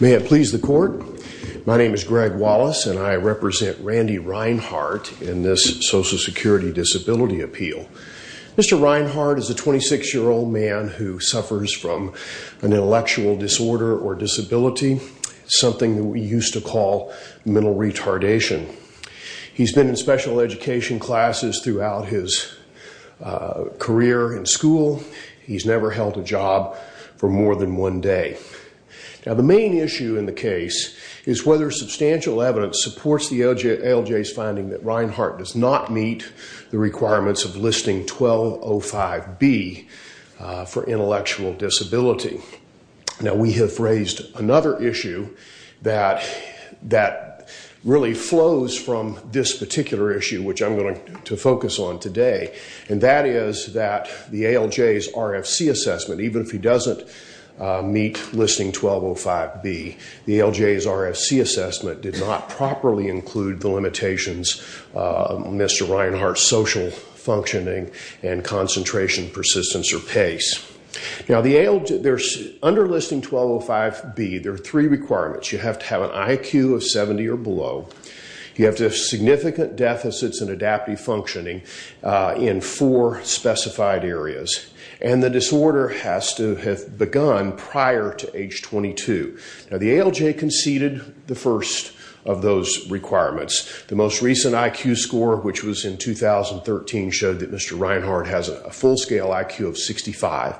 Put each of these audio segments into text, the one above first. May it please the court, my name is Greg Wallace and I represent Randy Rhinehart in this Social Security Disability Appeal. Mr. Rhinehart is a 26-year-old man who suffers from an intellectual disorder or disability, something that we used to call mental retardation. He's been in special education classes throughout his career in school. He's never held a job for more than one day. Now the main issue in the case is whether substantial evidence supports the ALJ's finding that Rhinehart does not meet the requirements of Listing 1205B for intellectual disability. Now we have raised another issue that really flows from this particular issue, which I'm going to focus on today, and that is that the ALJ's RFC assessment, even if he doesn't meet Listing 1205B, the ALJ's RFC assessment did not properly include the limitations of Mr. Rhinehart's social functioning and concentration, persistence, or pace. Now under Listing 1205B, there are three requirements. You have to have an IQ of 70 or below. You have to have significant deficits in adaptive functioning in four specified areas. And the disorder has to have begun prior to age 22. Now the ALJ conceded the requirements. The most recent IQ score, which was in 2013, showed that Mr. Rhinehart has a full-scale IQ of 65.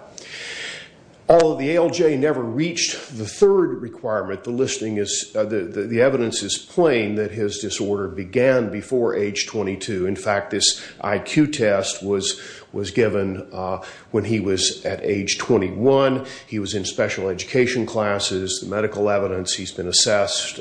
Although the ALJ never reached the third requirement, the evidence is plain that his disorder began before age 22. In fact, this IQ test was given when he was at age 21. He was in special education classes. The medical evidence, he's been assessed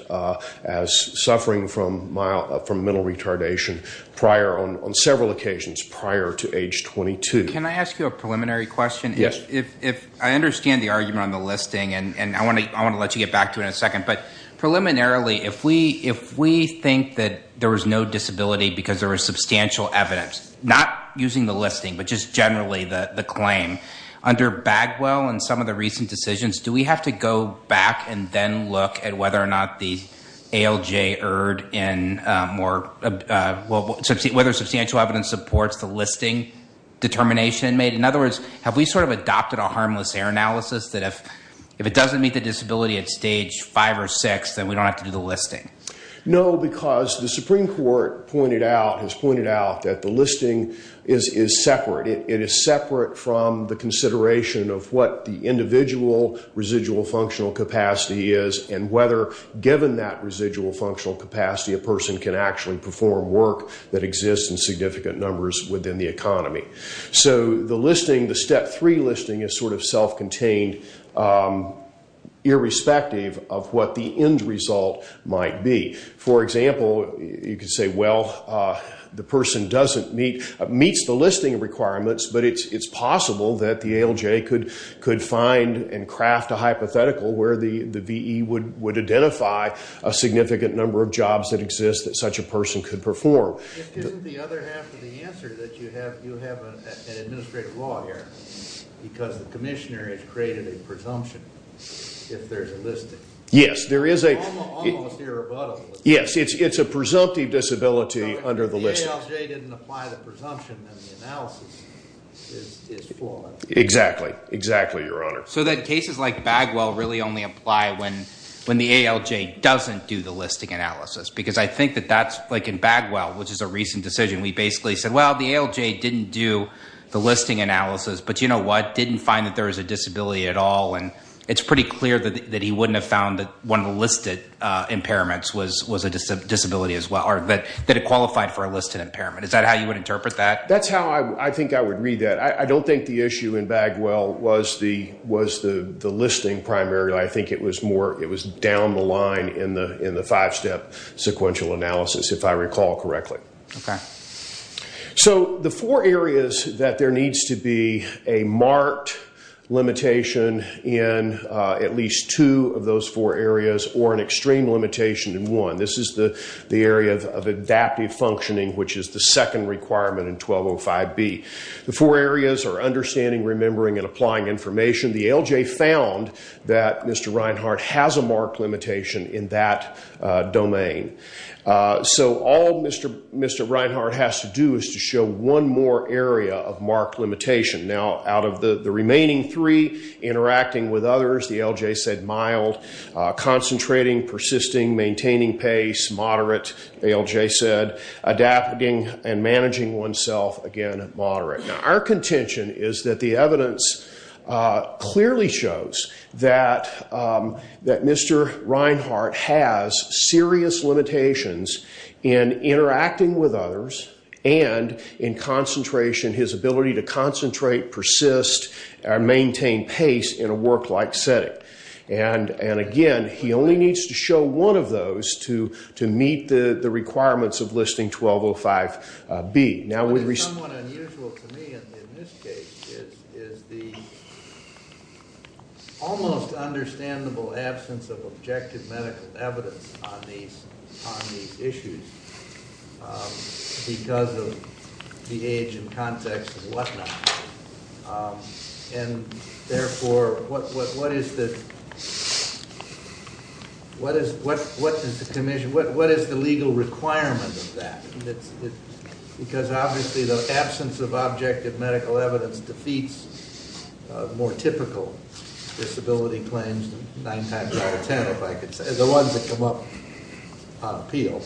as suffering from mental retardation on several occasions prior to age 22. Can I ask you a preliminary question? I understand the argument on the listing, and I want to let you get back to it in a second. But preliminarily, if we think that there was no disability because there was substantial evidence, not using the listing, but just generally the claim, under Bagwell and some of the recent decisions, do we have to go back and then look at whether or not the ALJ erred in whether substantial evidence supports the listing determination made? In other words, have we sort of adopted a harmless error analysis that if it doesn't meet the disability at stage five or six, then we don't have to do the listing? No, because the Supreme Court has pointed out that the listing is separate. It is separate from the consideration of what the individual residual functional capacity is and whether given that residual functional capacity, a person can actually perform work that exists in significant numbers within the economy. The listing, the step three listing, is sort of self-contained, irrespective of what the end result might be. For example, you could find and craft a hypothetical where the V.E. would identify a significant number of jobs that exist that such a person could perform. Isn't the other half of the answer that you have an administrative law here, because the commissioner has created a presumption, if there's a listing? Yes. It's a presumptive disability under the listing. If the ALJ didn't apply the presumption, then the analysis is flawed. Exactly. Exactly, Your Honor. So that cases like Bagwell really only apply when the ALJ doesn't do the listing analysis, because I think that that's like in Bagwell, which is a recent decision. We basically said, well, the ALJ didn't do the listing analysis, but you know what, didn't find that there was a disability at all, and it's pretty clear that he wouldn't have found that one of the listed impairments was a disability as well or that it qualified for a listed impairment. Is that how you would interpret that? That's how I think I would read that. I don't think the issue in Bagwell was the listing primarily. I think it was more down the line in the five-step sequential analysis, if I recall correctly. Okay. So the four areas that there needs to be a marked limitation in at least two of those four areas or an extreme limitation in one. This is the area of adaptive functioning, which is the second requirement in 1205B. The four areas are understanding, remembering, and applying information. The ALJ found that Mr. Reinhart has a marked limitation in that domain. So all Mr. Reinhart has to do is to show one more area of marked limitation. Now concentrating, persisting, maintaining pace, moderate, ALJ said. Adapting and managing oneself, again, moderate. Now our contention is that the evidence clearly shows that Mr. Reinhart has serious limitations in interacting with others and in concentration, his ability to concentrate, persist, and maintain pace in a work-like setting. And again, he only needs to show one of those to meet the requirements of Listing 1205B. But it's somewhat unusual to me in this case is the almost understandable absence of objective medical evidence on these issues because of the age and context of what's going on in the world right now. And therefore, what is the commission, what is the legal requirement of that? Because obviously the absence of objective medical evidence defeats more typical disability claims nine times out of ten, if I could say, the ones that come up on appeal.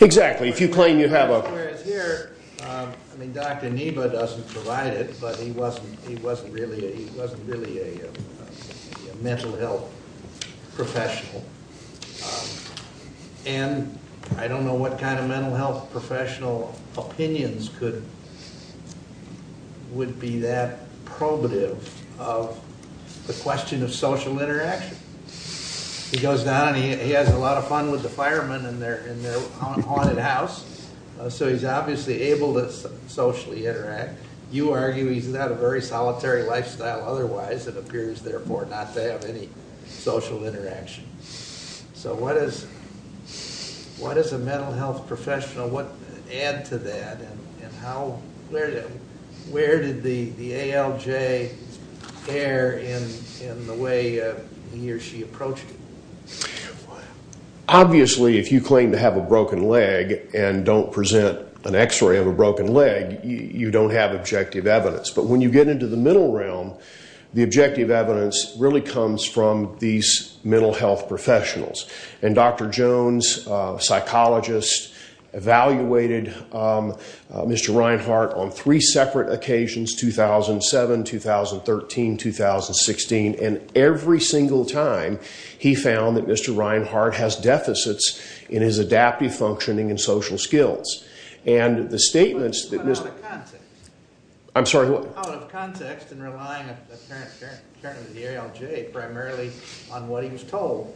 Exactly. If you claim you have a... Whereas here, I mean, Dr. Neba doesn't provide it, but he wasn't really a mental health professional. And I don't know what kind of mental health professional opinions would be that probative of the question of social interaction. He goes down and he has a lot of fun with the haunted house, so he's obviously able to socially interact. You argue he's got a very solitary lifestyle otherwise, it appears, therefore, not to have any social interaction. So what is a mental health professional, what add to that, and where did the ALJ err in the way he or she approached it? Obviously, if you claim to have a broken leg and don't present an x-ray of a broken leg, you don't have objective evidence. But when you get into the mental realm, the objective evidence really comes from these mental health professionals. And Dr. Jones, a psychologist, evaluated Mr. Reinhart on three separate occasions, 2007, 2013, 2016, and every single time he found that Mr. Reinhart has deficits in his adaptive functioning and social skills. Out of context and relying primarily on what he was told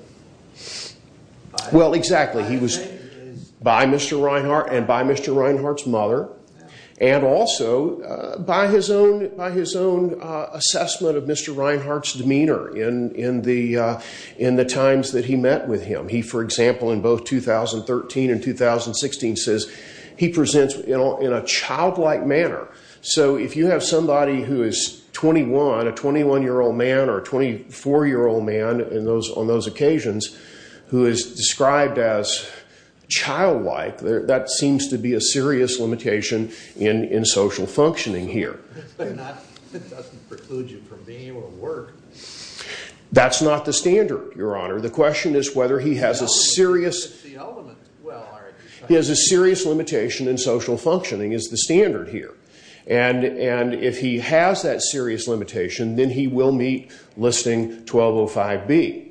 by Mr. Reinhart and by Mr. Reinhart's mother, and also by his own assessment of Mr. Reinhart's demeanor in the time he was met with him. He, for example, in both 2013 and 2016 says he presents in a childlike manner. So if you have somebody who is 21, a 21-year-old man or a 24-year-old man on those occasions who is described as childlike, that seems to be a serious limitation in social functioning here. But that doesn't preclude you from being able to work. That's not the standard, Your Honor. The question is whether he has a serious limitation in social functioning is the standard here. And if he has that serious limitation, then he will meet Listing 1205B.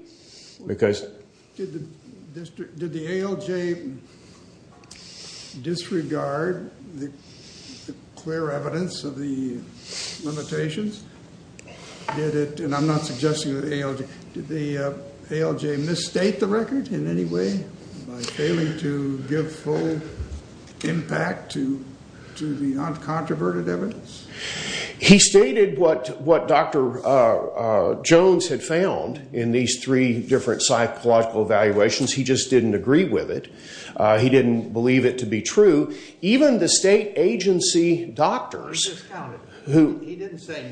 Did the ALJ disregard the clear evidence of the limitations? Did it inoculate Mr. Reinhart and Mr. Reinhart? I'm not suggesting the ALJ. Did the ALJ misstate the record in any way by failing to give full impact to the uncontroverted evidence? He stated what Dr. Jones had found in these three different psychological evaluations. He just didn't agree with it. He didn't believe it to be true. Even the state agency doctors who evaluated some of the medical evidence at the time they were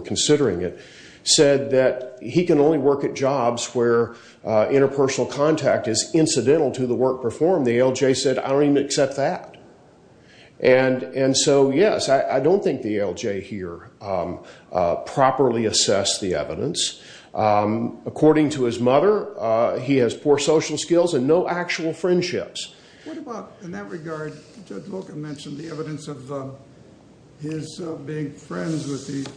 considering it said that he can only work at jobs where interpersonal contact is incidental to the work performed. The ALJ said, I don't even accept that. And so, yes, I don't think the ALJ here properly assessed the evidence. According to his mother, he has poor social skills and no actual friendships. What about, in that regard, Judge Loca mentioned the evidence of his being friends with the firefighters?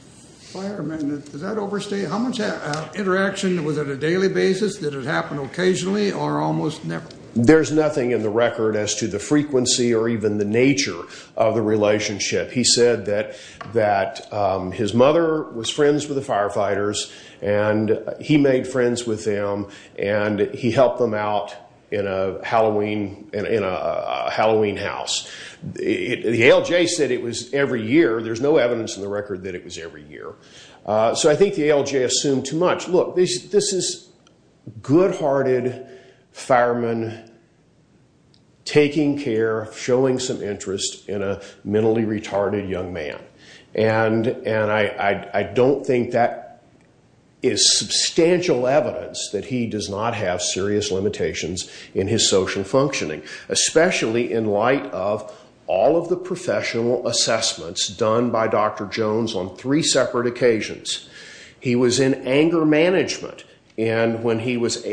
Did the firearms have interaction? Was it a daily basis? Did it happen occasionally or almost never? There's nothing in the record as to the frequency or even the nature of the relationship. He said that his mother was friends with the firefighters and he made friends with them and he helped them out in a Halloween house. The ALJ said it was every year. There's no reason for the ALJ to assume too much. Look, this is good-hearted firemen taking care, showing some interest in a mentally retarded young man. And I don't think that is substantial evidence that he does not have serious limitations in his social functioning, especially in light of all of the professional assessments done by Dr. Jones on three separate occasions. He was in anger management when he was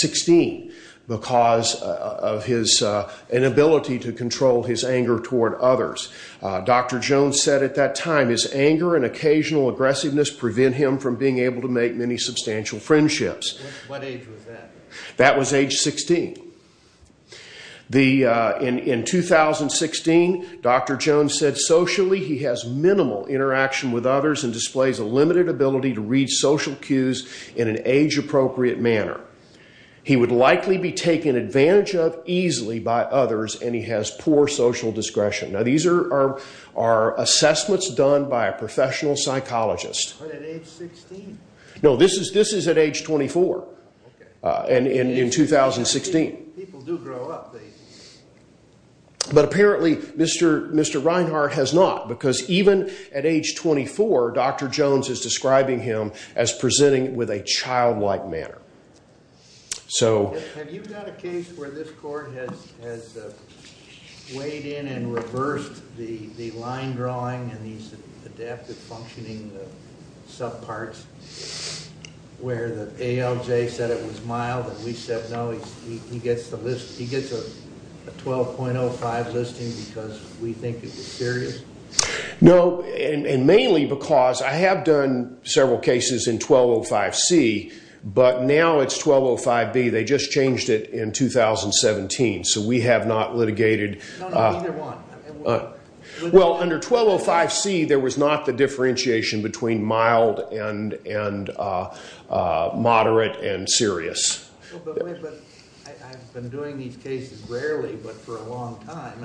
16 because of his inability to control his anger toward others. Dr. Jones said at that time, his anger and occasional aggressiveness prevent him from being able to make many substantial friendships. What age was that? That was age 16. In 2016, Dr. Jones said socially he has minimal interaction with others and displays a limited ability to read social cues in an age-appropriate manner. He would likely be taken advantage of easily by others and he has poor social discretion. These are assessments done by a professional psychologist. But at age 16? No, this is at age 24 in 2016. People do grow up, they do. But apparently Mr. Reinhart has not because even at age 24, Dr. Jones is describing him as presenting with a child-like manner. So have you had a case where this court has weighed in and reversed the line drawing and he's adapted functioning sub-parts where the ALJ said it was mild and we said no, he gets a 12.05 listing because we think it was serious? No, and mainly because I have done several cases in 1205C, but now it's 1205B. They just changed it in 2017, so we have not litigated. No, neither have I. Well, under 1205C, there was not the differentiation between mild and moderate and serious. But I've been doing these cases rarely but for a long time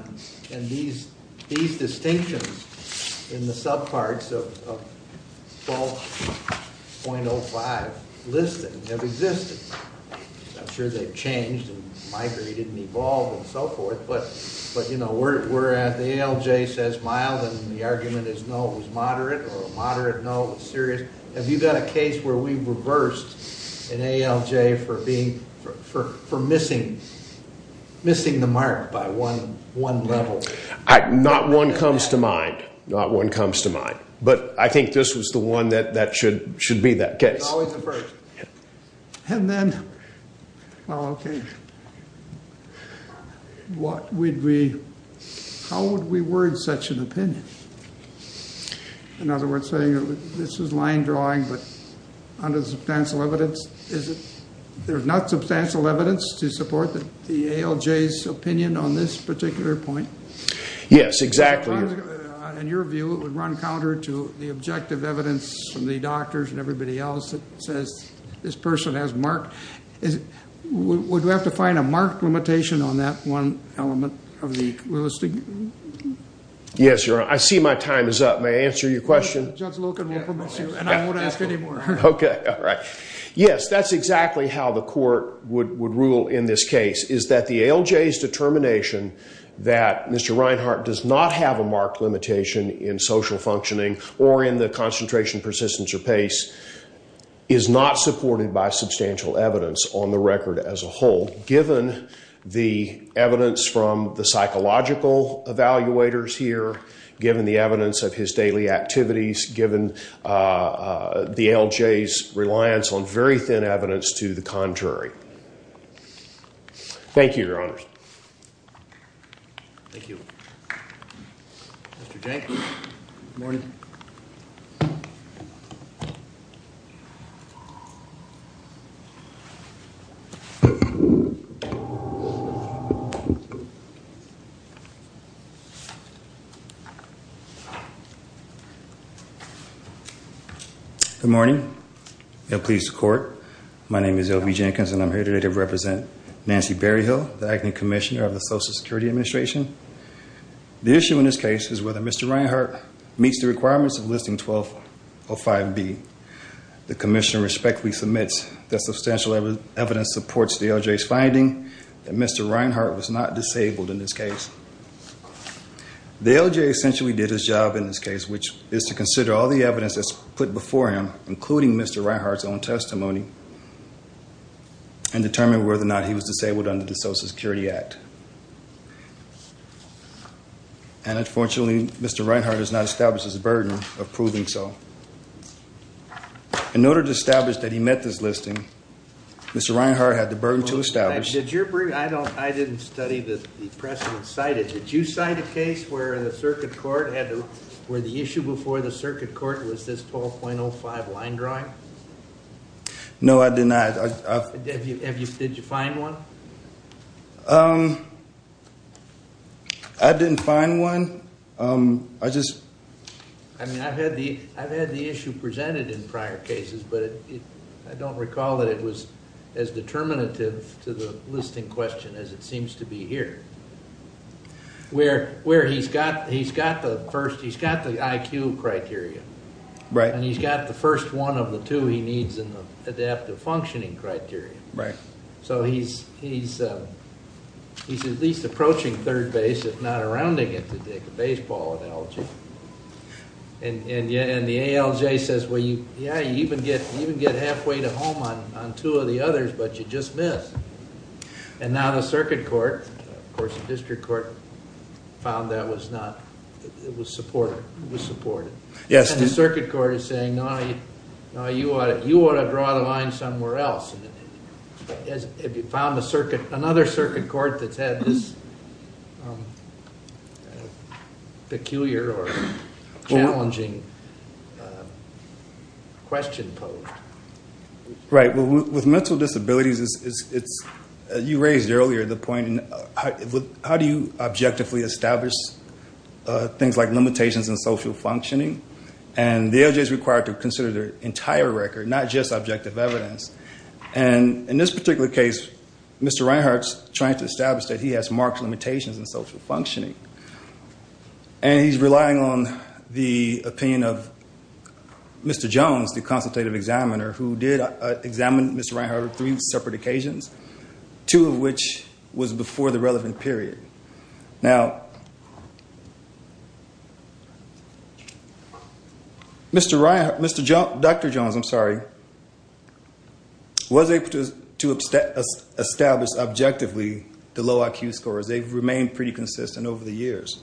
and these distinctions in the sub-parts of 12.05 listing have existed. I'm sure they've changed and migrated and the ALJ says mild and the argument is no, it was moderate or moderate, no, it was serious. Have you got a case where we've reversed an ALJ for missing the mark by one level? Not one comes to mind. Not one comes to mind. But I think this was the one that should be that case. It's always the first. And then, how would we word such an opinion? In other words, saying this is line drawing but under substantial evidence, there's not substantial evidence to support the ALJ's opinion on this particular point? Yes, exactly. In your view, it would run counter to the objective evidence from the doctors and everybody else that says this person has marked. Would we have to find a marked limitation on that one element of the listing? Yes, Your Honor. I see my time is up. May I answer your question? Judge Loken will permit you and I won't ask any more. Okay, all right. Yes, that's exactly how the court would rule in this case is that the ALJ's determination that Mr. Reinhart does not have a marked limitation in social functioning or in the concentration, persistence, or pace is not supported by substantial evidence on the record as a whole, given the evidence from the psychological evaluators here, given the evidence of his daily activities, given the ALJ's reliance on very thin evidence to the contrary. Thank you, Your Honors. Thank you. Mr. Jenkins. Good morning. Good morning and please support. My name is L.B. Jenkins and I'm here today to represent Nancy Berryhill, the Acting Commissioner of the Social Security Administration. The issue in this case is whether Mr. Reinhart meets the requirements of Listing 1205B. The Commissioner respectfully submits that substantial evidence supports the ALJ's finding that Mr. Reinhart was not disabled in this case. The ALJ essentially did its job in this case, which is to consider all the evidence that's put before him, including Mr. Reinhart's own testimony, and determine whether or not he was disabled under the Social Security Act. And unfortunately, Mr. Reinhart has not established his burden of proving so. In order to establish that he met this listing, Mr. Reinhart had the burden to establish... I didn't study the precedent cited. Did you cite a case where the issue before the circuit court was this 12.05 line drawing? No, I did not. Did you find one? I didn't find one. I just... I mean, I've had the issue presented in prior cases, but I don't recall that it was as determinative to the listing question as it seems to be here. Where he's got the first... he's got the IQ criteria. Right. And he's got the first one of the two he needs in the adaptive functioning criteria. Right. So he's at least approaching third base, if not around it, to take a baseball analogy. And the ALJ says, well, yeah, you even get halfway to home on two of the others, but you just missed. And now the circuit court, of course the district court, found that was not... it was supported. Yes. And the circuit court is saying, no, you ought to draw the line somewhere else. Have you found another circuit court that's had this peculiar or challenging question posed? Right. With mental disabilities, it's... you raised earlier the point, how do you objectively establish things like limitations in social functioning? And the ALJ is required to consider their entire record, not just objective evidence. And in this particular case, Mr. Reinhart's trying to establish that he has marked limitations in social functioning. And he's relying on the opinion of Mr. Jones, the consultative examiner, who did examine Mr. Reinhart on three separate occasions, two of which was before the relevant period. Now, Mr. Reinhart... Dr. Jones, I'm sorry, was able to establish objectively the low IQ scores. They've remained pretty consistent over the years.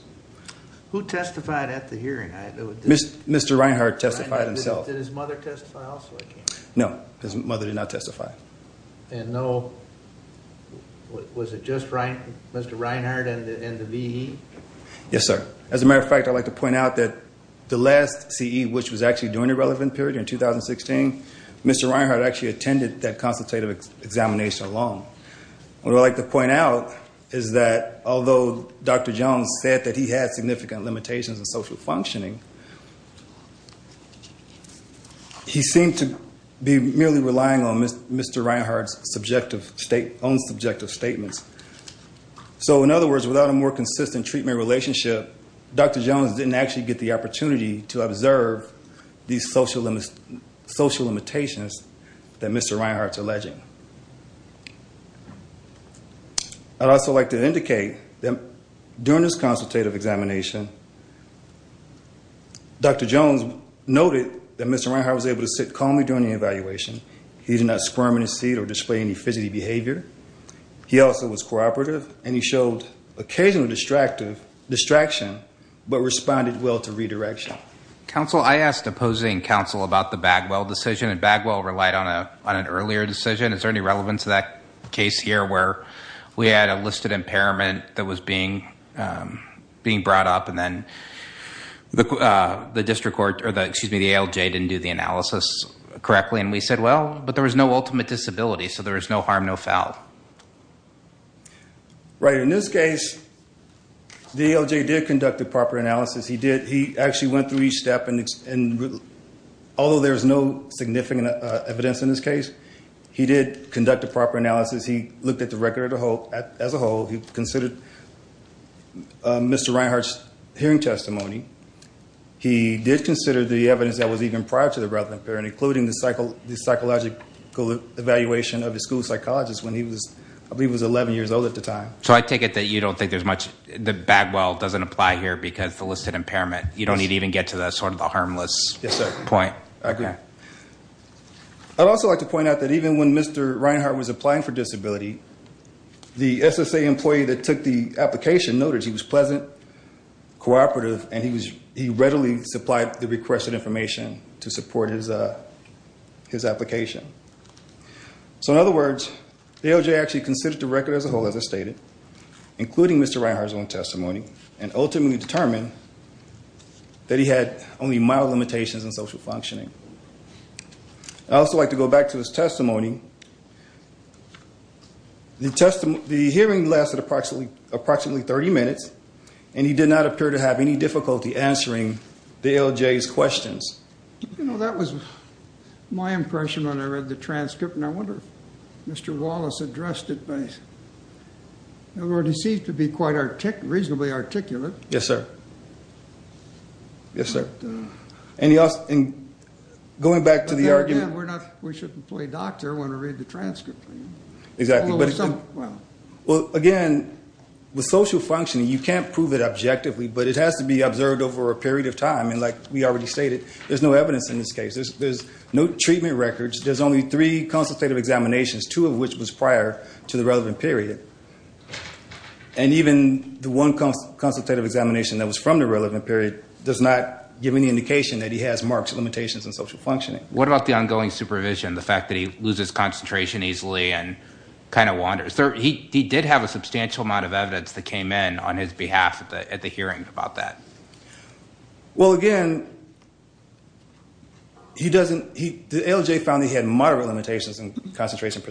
Who testified at the hearing? Mr. Reinhart testified himself. Did his mother testify also? No, his mother did not testify. And no... was it just Mr. Reinhart and the VE? Yes, sir. As a matter of fact, I'd like to point out that the last CE, which was actually during the relevant period in 2016, Mr. Reinhart actually attended that consultative examination alone. What I'd like to point out is that although Dr. Jones said that he had significant limitations in social functioning, he seemed to be merely relying on Mr. Reinhart's own subjective statements. So, in other words, without a more consistent treatment relationship, Dr. Jones didn't actually get the opportunity to observe these social limitations that Mr. Reinhart's alleging. I'd also like to indicate that during this consultative examination, Dr. Jones noted that Mr. Reinhart was able to sit calmly during the evaluation. He did not squirm in his seat or display any fidgety behavior. He also was cooperative, and he showed occasional distraction, but responded well to redirection. Counsel, I asked opposing counsel about the Bagwell decision, and Bagwell relied on an earlier decision. Is there any relevance to that case here where we had a listed impairment that was being brought up, and then the ALJ didn't do the analysis correctly, and we said, Well, but there was no ultimate disability, so there was no harm, no foul. Right. In this case, the ALJ did conduct a proper analysis. He actually went through each step, and although there was no significant evidence in this case, he did conduct a proper analysis. He looked at the record as a whole. He considered Mr. Reinhart's hearing testimony. He did consider the evidence that was even prior to the relative impairment, including the psychological evaluation of his school psychologist when he was 11 years old at the time. So I take it that you don't think there's much that Bagwell doesn't apply here because of the listed impairment. You don't even get to the harmless point. Yes, sir. I agree. I'd also like to point out that even when Mr. Reinhart was applying for disability, the SSA employee that took the application noted he was pleasant, cooperative, and he readily supplied the requested information to support his application. So in other words, the ALJ actually considered the record as a whole, as I stated, including Mr. Reinhart's own testimony, and ultimately determined that he had only mild limitations in social functioning. I'd also like to go back to his testimony. The hearing lasted approximately 30 minutes, and he did not appear to have any difficulty answering the ALJ's questions. You know, that was my impression when I read the transcript, and I wonder if Mr. Wallace addressed it. It seemed to be quite reasonably articulate. Yes, sir. Yes, sir. And going back to the argument— But there again, we're not—we shouldn't play doctor when I read the transcript. Exactly. Well, again, with social functioning, you can't prove it objectively, but it has to be observed over a period of time. And like we already stated, there's no evidence in this case. There's no treatment records. There's only three consultative examinations, two of which was prior to the relevant period. And even the one consultative examination that was from the relevant period does not give any indication that he has marked limitations in social functioning. What about the ongoing supervision, the fact that he loses concentration easily and kind of wanders? He did have a substantial amount of evidence that came in on his behalf at the hearing about that. Well, again, he doesn't—the ALJ found that he had moderate limitations in concentration,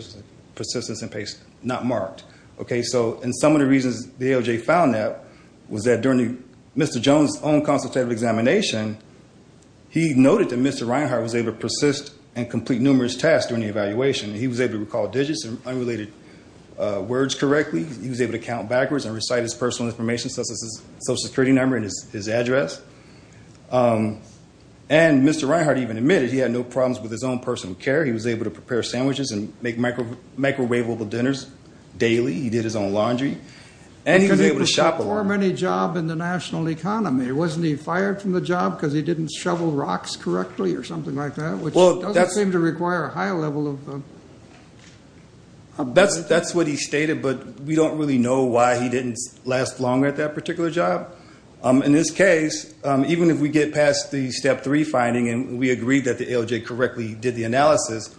persistence, and pace, not marked. Okay, so—and some of the reasons the ALJ found that was that during Mr. Jones' own consultative examination, he noted that Mr. Reinhart was able to persist and complete numerous tasks during the evaluation. He was able to recall digits and unrelated words correctly. He was able to count backwards and recite his personal information, such as his Social Security number and his address. And Mr. Reinhart even admitted he had no problems with his own personal care. He was able to prepare sandwiches and make microwavable dinners daily. He did his own laundry. And he was able to shop a lot. Could he perform any job in the national economy? Wasn't he fired from the job because he didn't shovel rocks correctly or something like that, which doesn't seem to require a high level of— That's what he stated, but we don't really know why he didn't last longer at that particular job. In this case, even if we get past the Step 3 finding and we agree that the ALJ correctly did the analysis,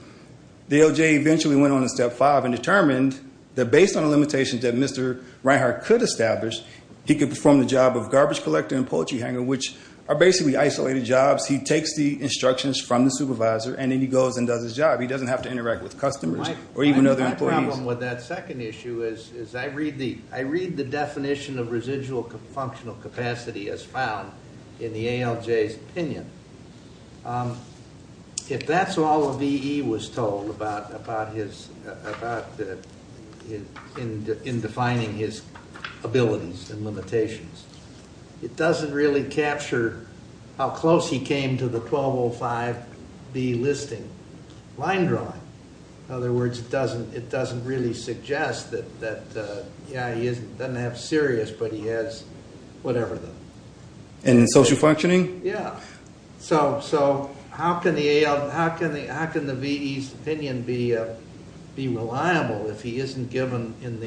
the ALJ eventually went on to Step 5 and determined that based on the limitations that Mr. Reinhart could establish, he could perform the job of garbage collector and poultry hanger, which are basically isolated jobs. He takes the instructions from the supervisor, and then he goes and does his job. He doesn't have to interact with customers or even other employees. My problem with that second issue is I read the definition of residual functional capacity as found in the ALJ's opinion. If that's all a VE was told in defining his abilities and limitations, it doesn't really capture how close he came to the 1205B listing. In other words, it doesn't really suggest that he doesn't have serious, but he has whatever. In social functioning? Yeah. How can the VE's opinion be reliable if he isn't given in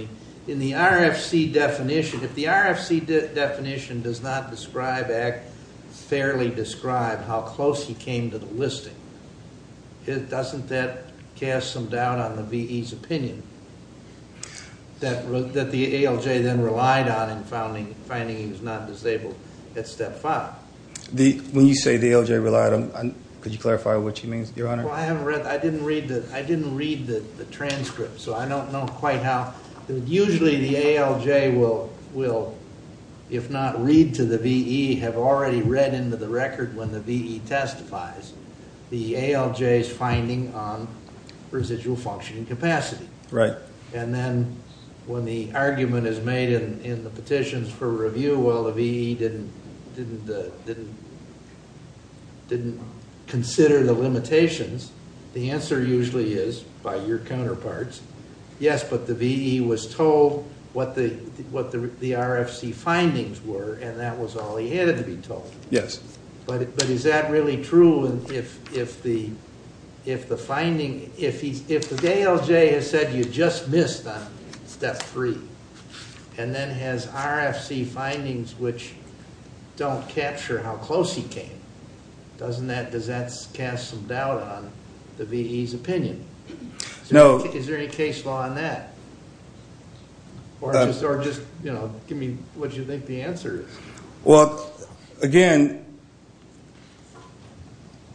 the RFC definition? If the RFC definition does not fairly describe how close he came to the listing, doesn't that cast some doubt on the VE's opinion that the ALJ then relied on in finding he was not disabled at Step 5? When you say the ALJ relied on, could you clarify what you mean, Your Honor? Well, I didn't read the transcript, so I don't know quite how. Usually the ALJ will, if not read to the VE, have already read into the record when the VE testifies the ALJ's finding on residual functioning capacity. Right. And then when the argument is made in the petitions for review, well, the VE didn't consider the limitations. The answer usually is, by your counterparts, yes, but the VE was told what the RFC findings were, and that was all he had to be told. Yes. But is that really true if the finding, if the ALJ has said you just missed on Step 3, and then has RFC findings which don't capture how close he came, doesn't that, does that cast some doubt on the VE's opinion? No. Is there any case law on that? Or just, you know, give me what you think the answer is. Well, again,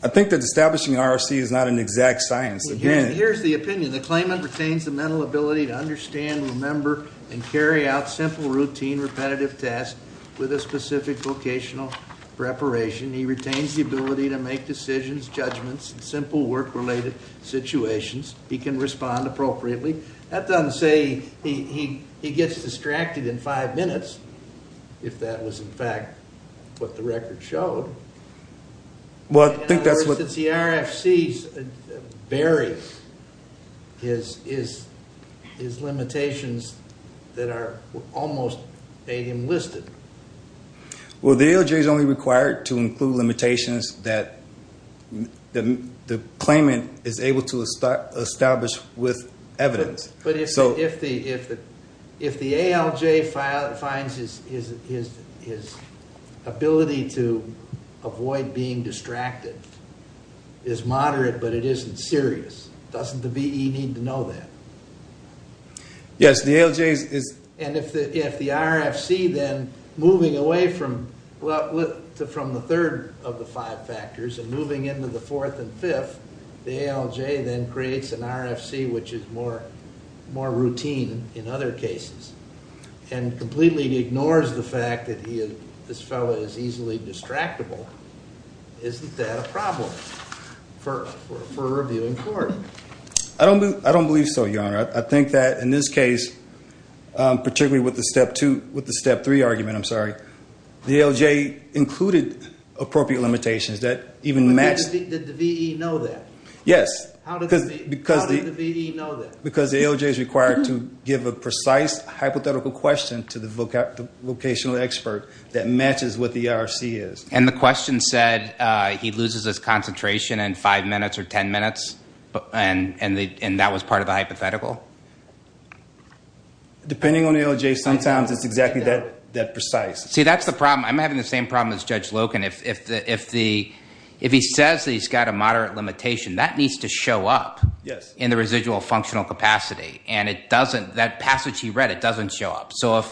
I think that establishing RFC is not an exact science. Here's the opinion. The claimant retains the mental ability to understand, remember, and carry out simple, routine, repetitive tasks with a specific vocational preparation. He retains the ability to make decisions, judgments, and simple work-related situations. He can respond appropriately. That doesn't say he gets distracted in five minutes, if that was in fact what the record showed. Well, I think that's what... In other words, since the RFCs vary, his limitations that are almost made him listed. Well, the ALJ is only required to include limitations that the claimant is able to establish with evidence. But if the ALJ finds his ability to avoid being distracted is moderate but it isn't serious, doesn't the VE need to know that? Yes, the ALJ is... And if the RFC, then, moving away from the third of the five factors and moving into the fourth and fifth, the ALJ then creates an RFC which is more routine in other cases and completely ignores the fact that this fellow is easily distractible, isn't that a problem for reviewing court? I don't believe so, Your Honor. I think that in this case, particularly with the step three argument, I'm sorry, the ALJ included appropriate limitations that even matched... Did the VE know that? Yes. How did the VE know that? Because the ALJ is required to give a precise hypothetical question to the vocational expert that matches what the RFC is. And the question said he loses his concentration in five minutes or ten minutes, and that was part of the hypothetical? Depending on the ALJ, sometimes it's exactly that precise. See, that's the problem. I'm having the same problem as Judge Loken. If he says that he's got a moderate limitation, that needs to show up in the residual functional capacity, and that passage he read, it doesn't show up. So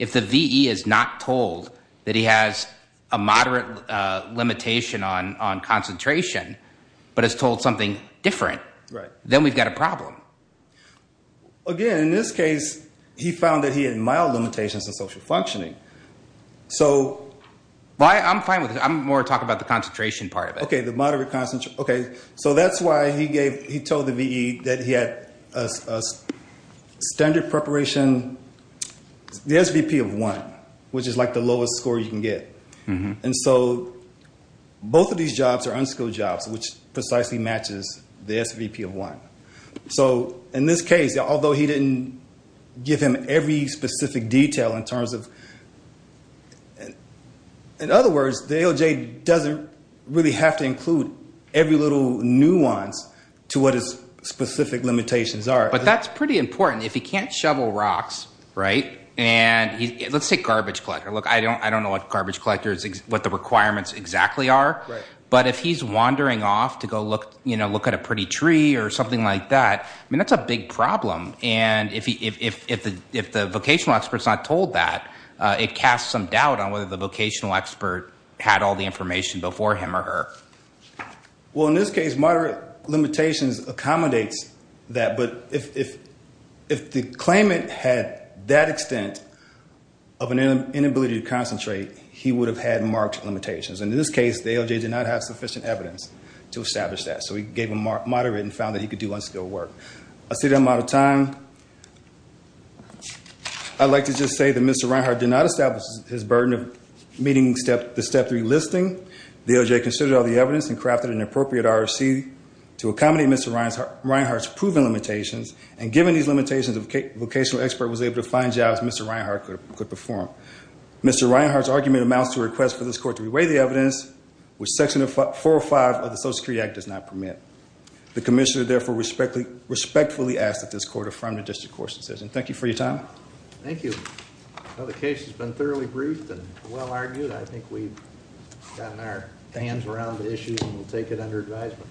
if the VE is not told that he has a moderate limitation on concentration, but is told something different, then we've got a problem. Again, in this case, he found that he had mild limitations in social functioning. So... I'm fine with it. I'm more talking about the concentration part of it. Okay, so that's why he told the VE that he had a standard preparation, the SVP of one, which is like the lowest score you can get. And so both of these jobs are unskilled jobs, which precisely matches the SVP of one. So in this case, although he didn't give him every specific detail in terms of... In other words, the ALJ doesn't really have to include every little nuance to what his specific limitations are. But that's pretty important. If he can't shovel rocks, right, and let's say garbage collector. Look, I don't know what garbage collector is, what the requirements exactly are. But if he's wandering off to go look at a pretty tree or something like that, I mean, that's a big problem. And if the vocational expert's not told that, it casts some doubt on whether the vocational expert had all the information before him or her. Well, in this case, moderate limitations accommodates that. But if the claimant had that extent of an inability to concentrate, he would have had marked limitations. And in this case, the ALJ did not have sufficient evidence to establish that. So we gave him moderate and found that he could do unskilled work. I see that I'm out of time. I'd like to just say that Mr. Reinhardt did not establish his burden of meeting the Step 3 listing. The ALJ considered all the evidence and crafted an appropriate RFC to accommodate Mr. Reinhardt's proven limitations. And given these limitations, the vocational expert was able to find jobs Mr. Reinhardt could perform. Mr. Reinhardt's argument amounts to a request for this court to reweigh the evidence, which Section 405 of the Social Security Act does not permit. The commissioner therefore respectfully asks that this court affirm the district court's decision. Thank you for your time. Thank you. Well, the case has been thoroughly briefed and well argued. I think we've gotten our hands around the issue and we'll take it under advisement.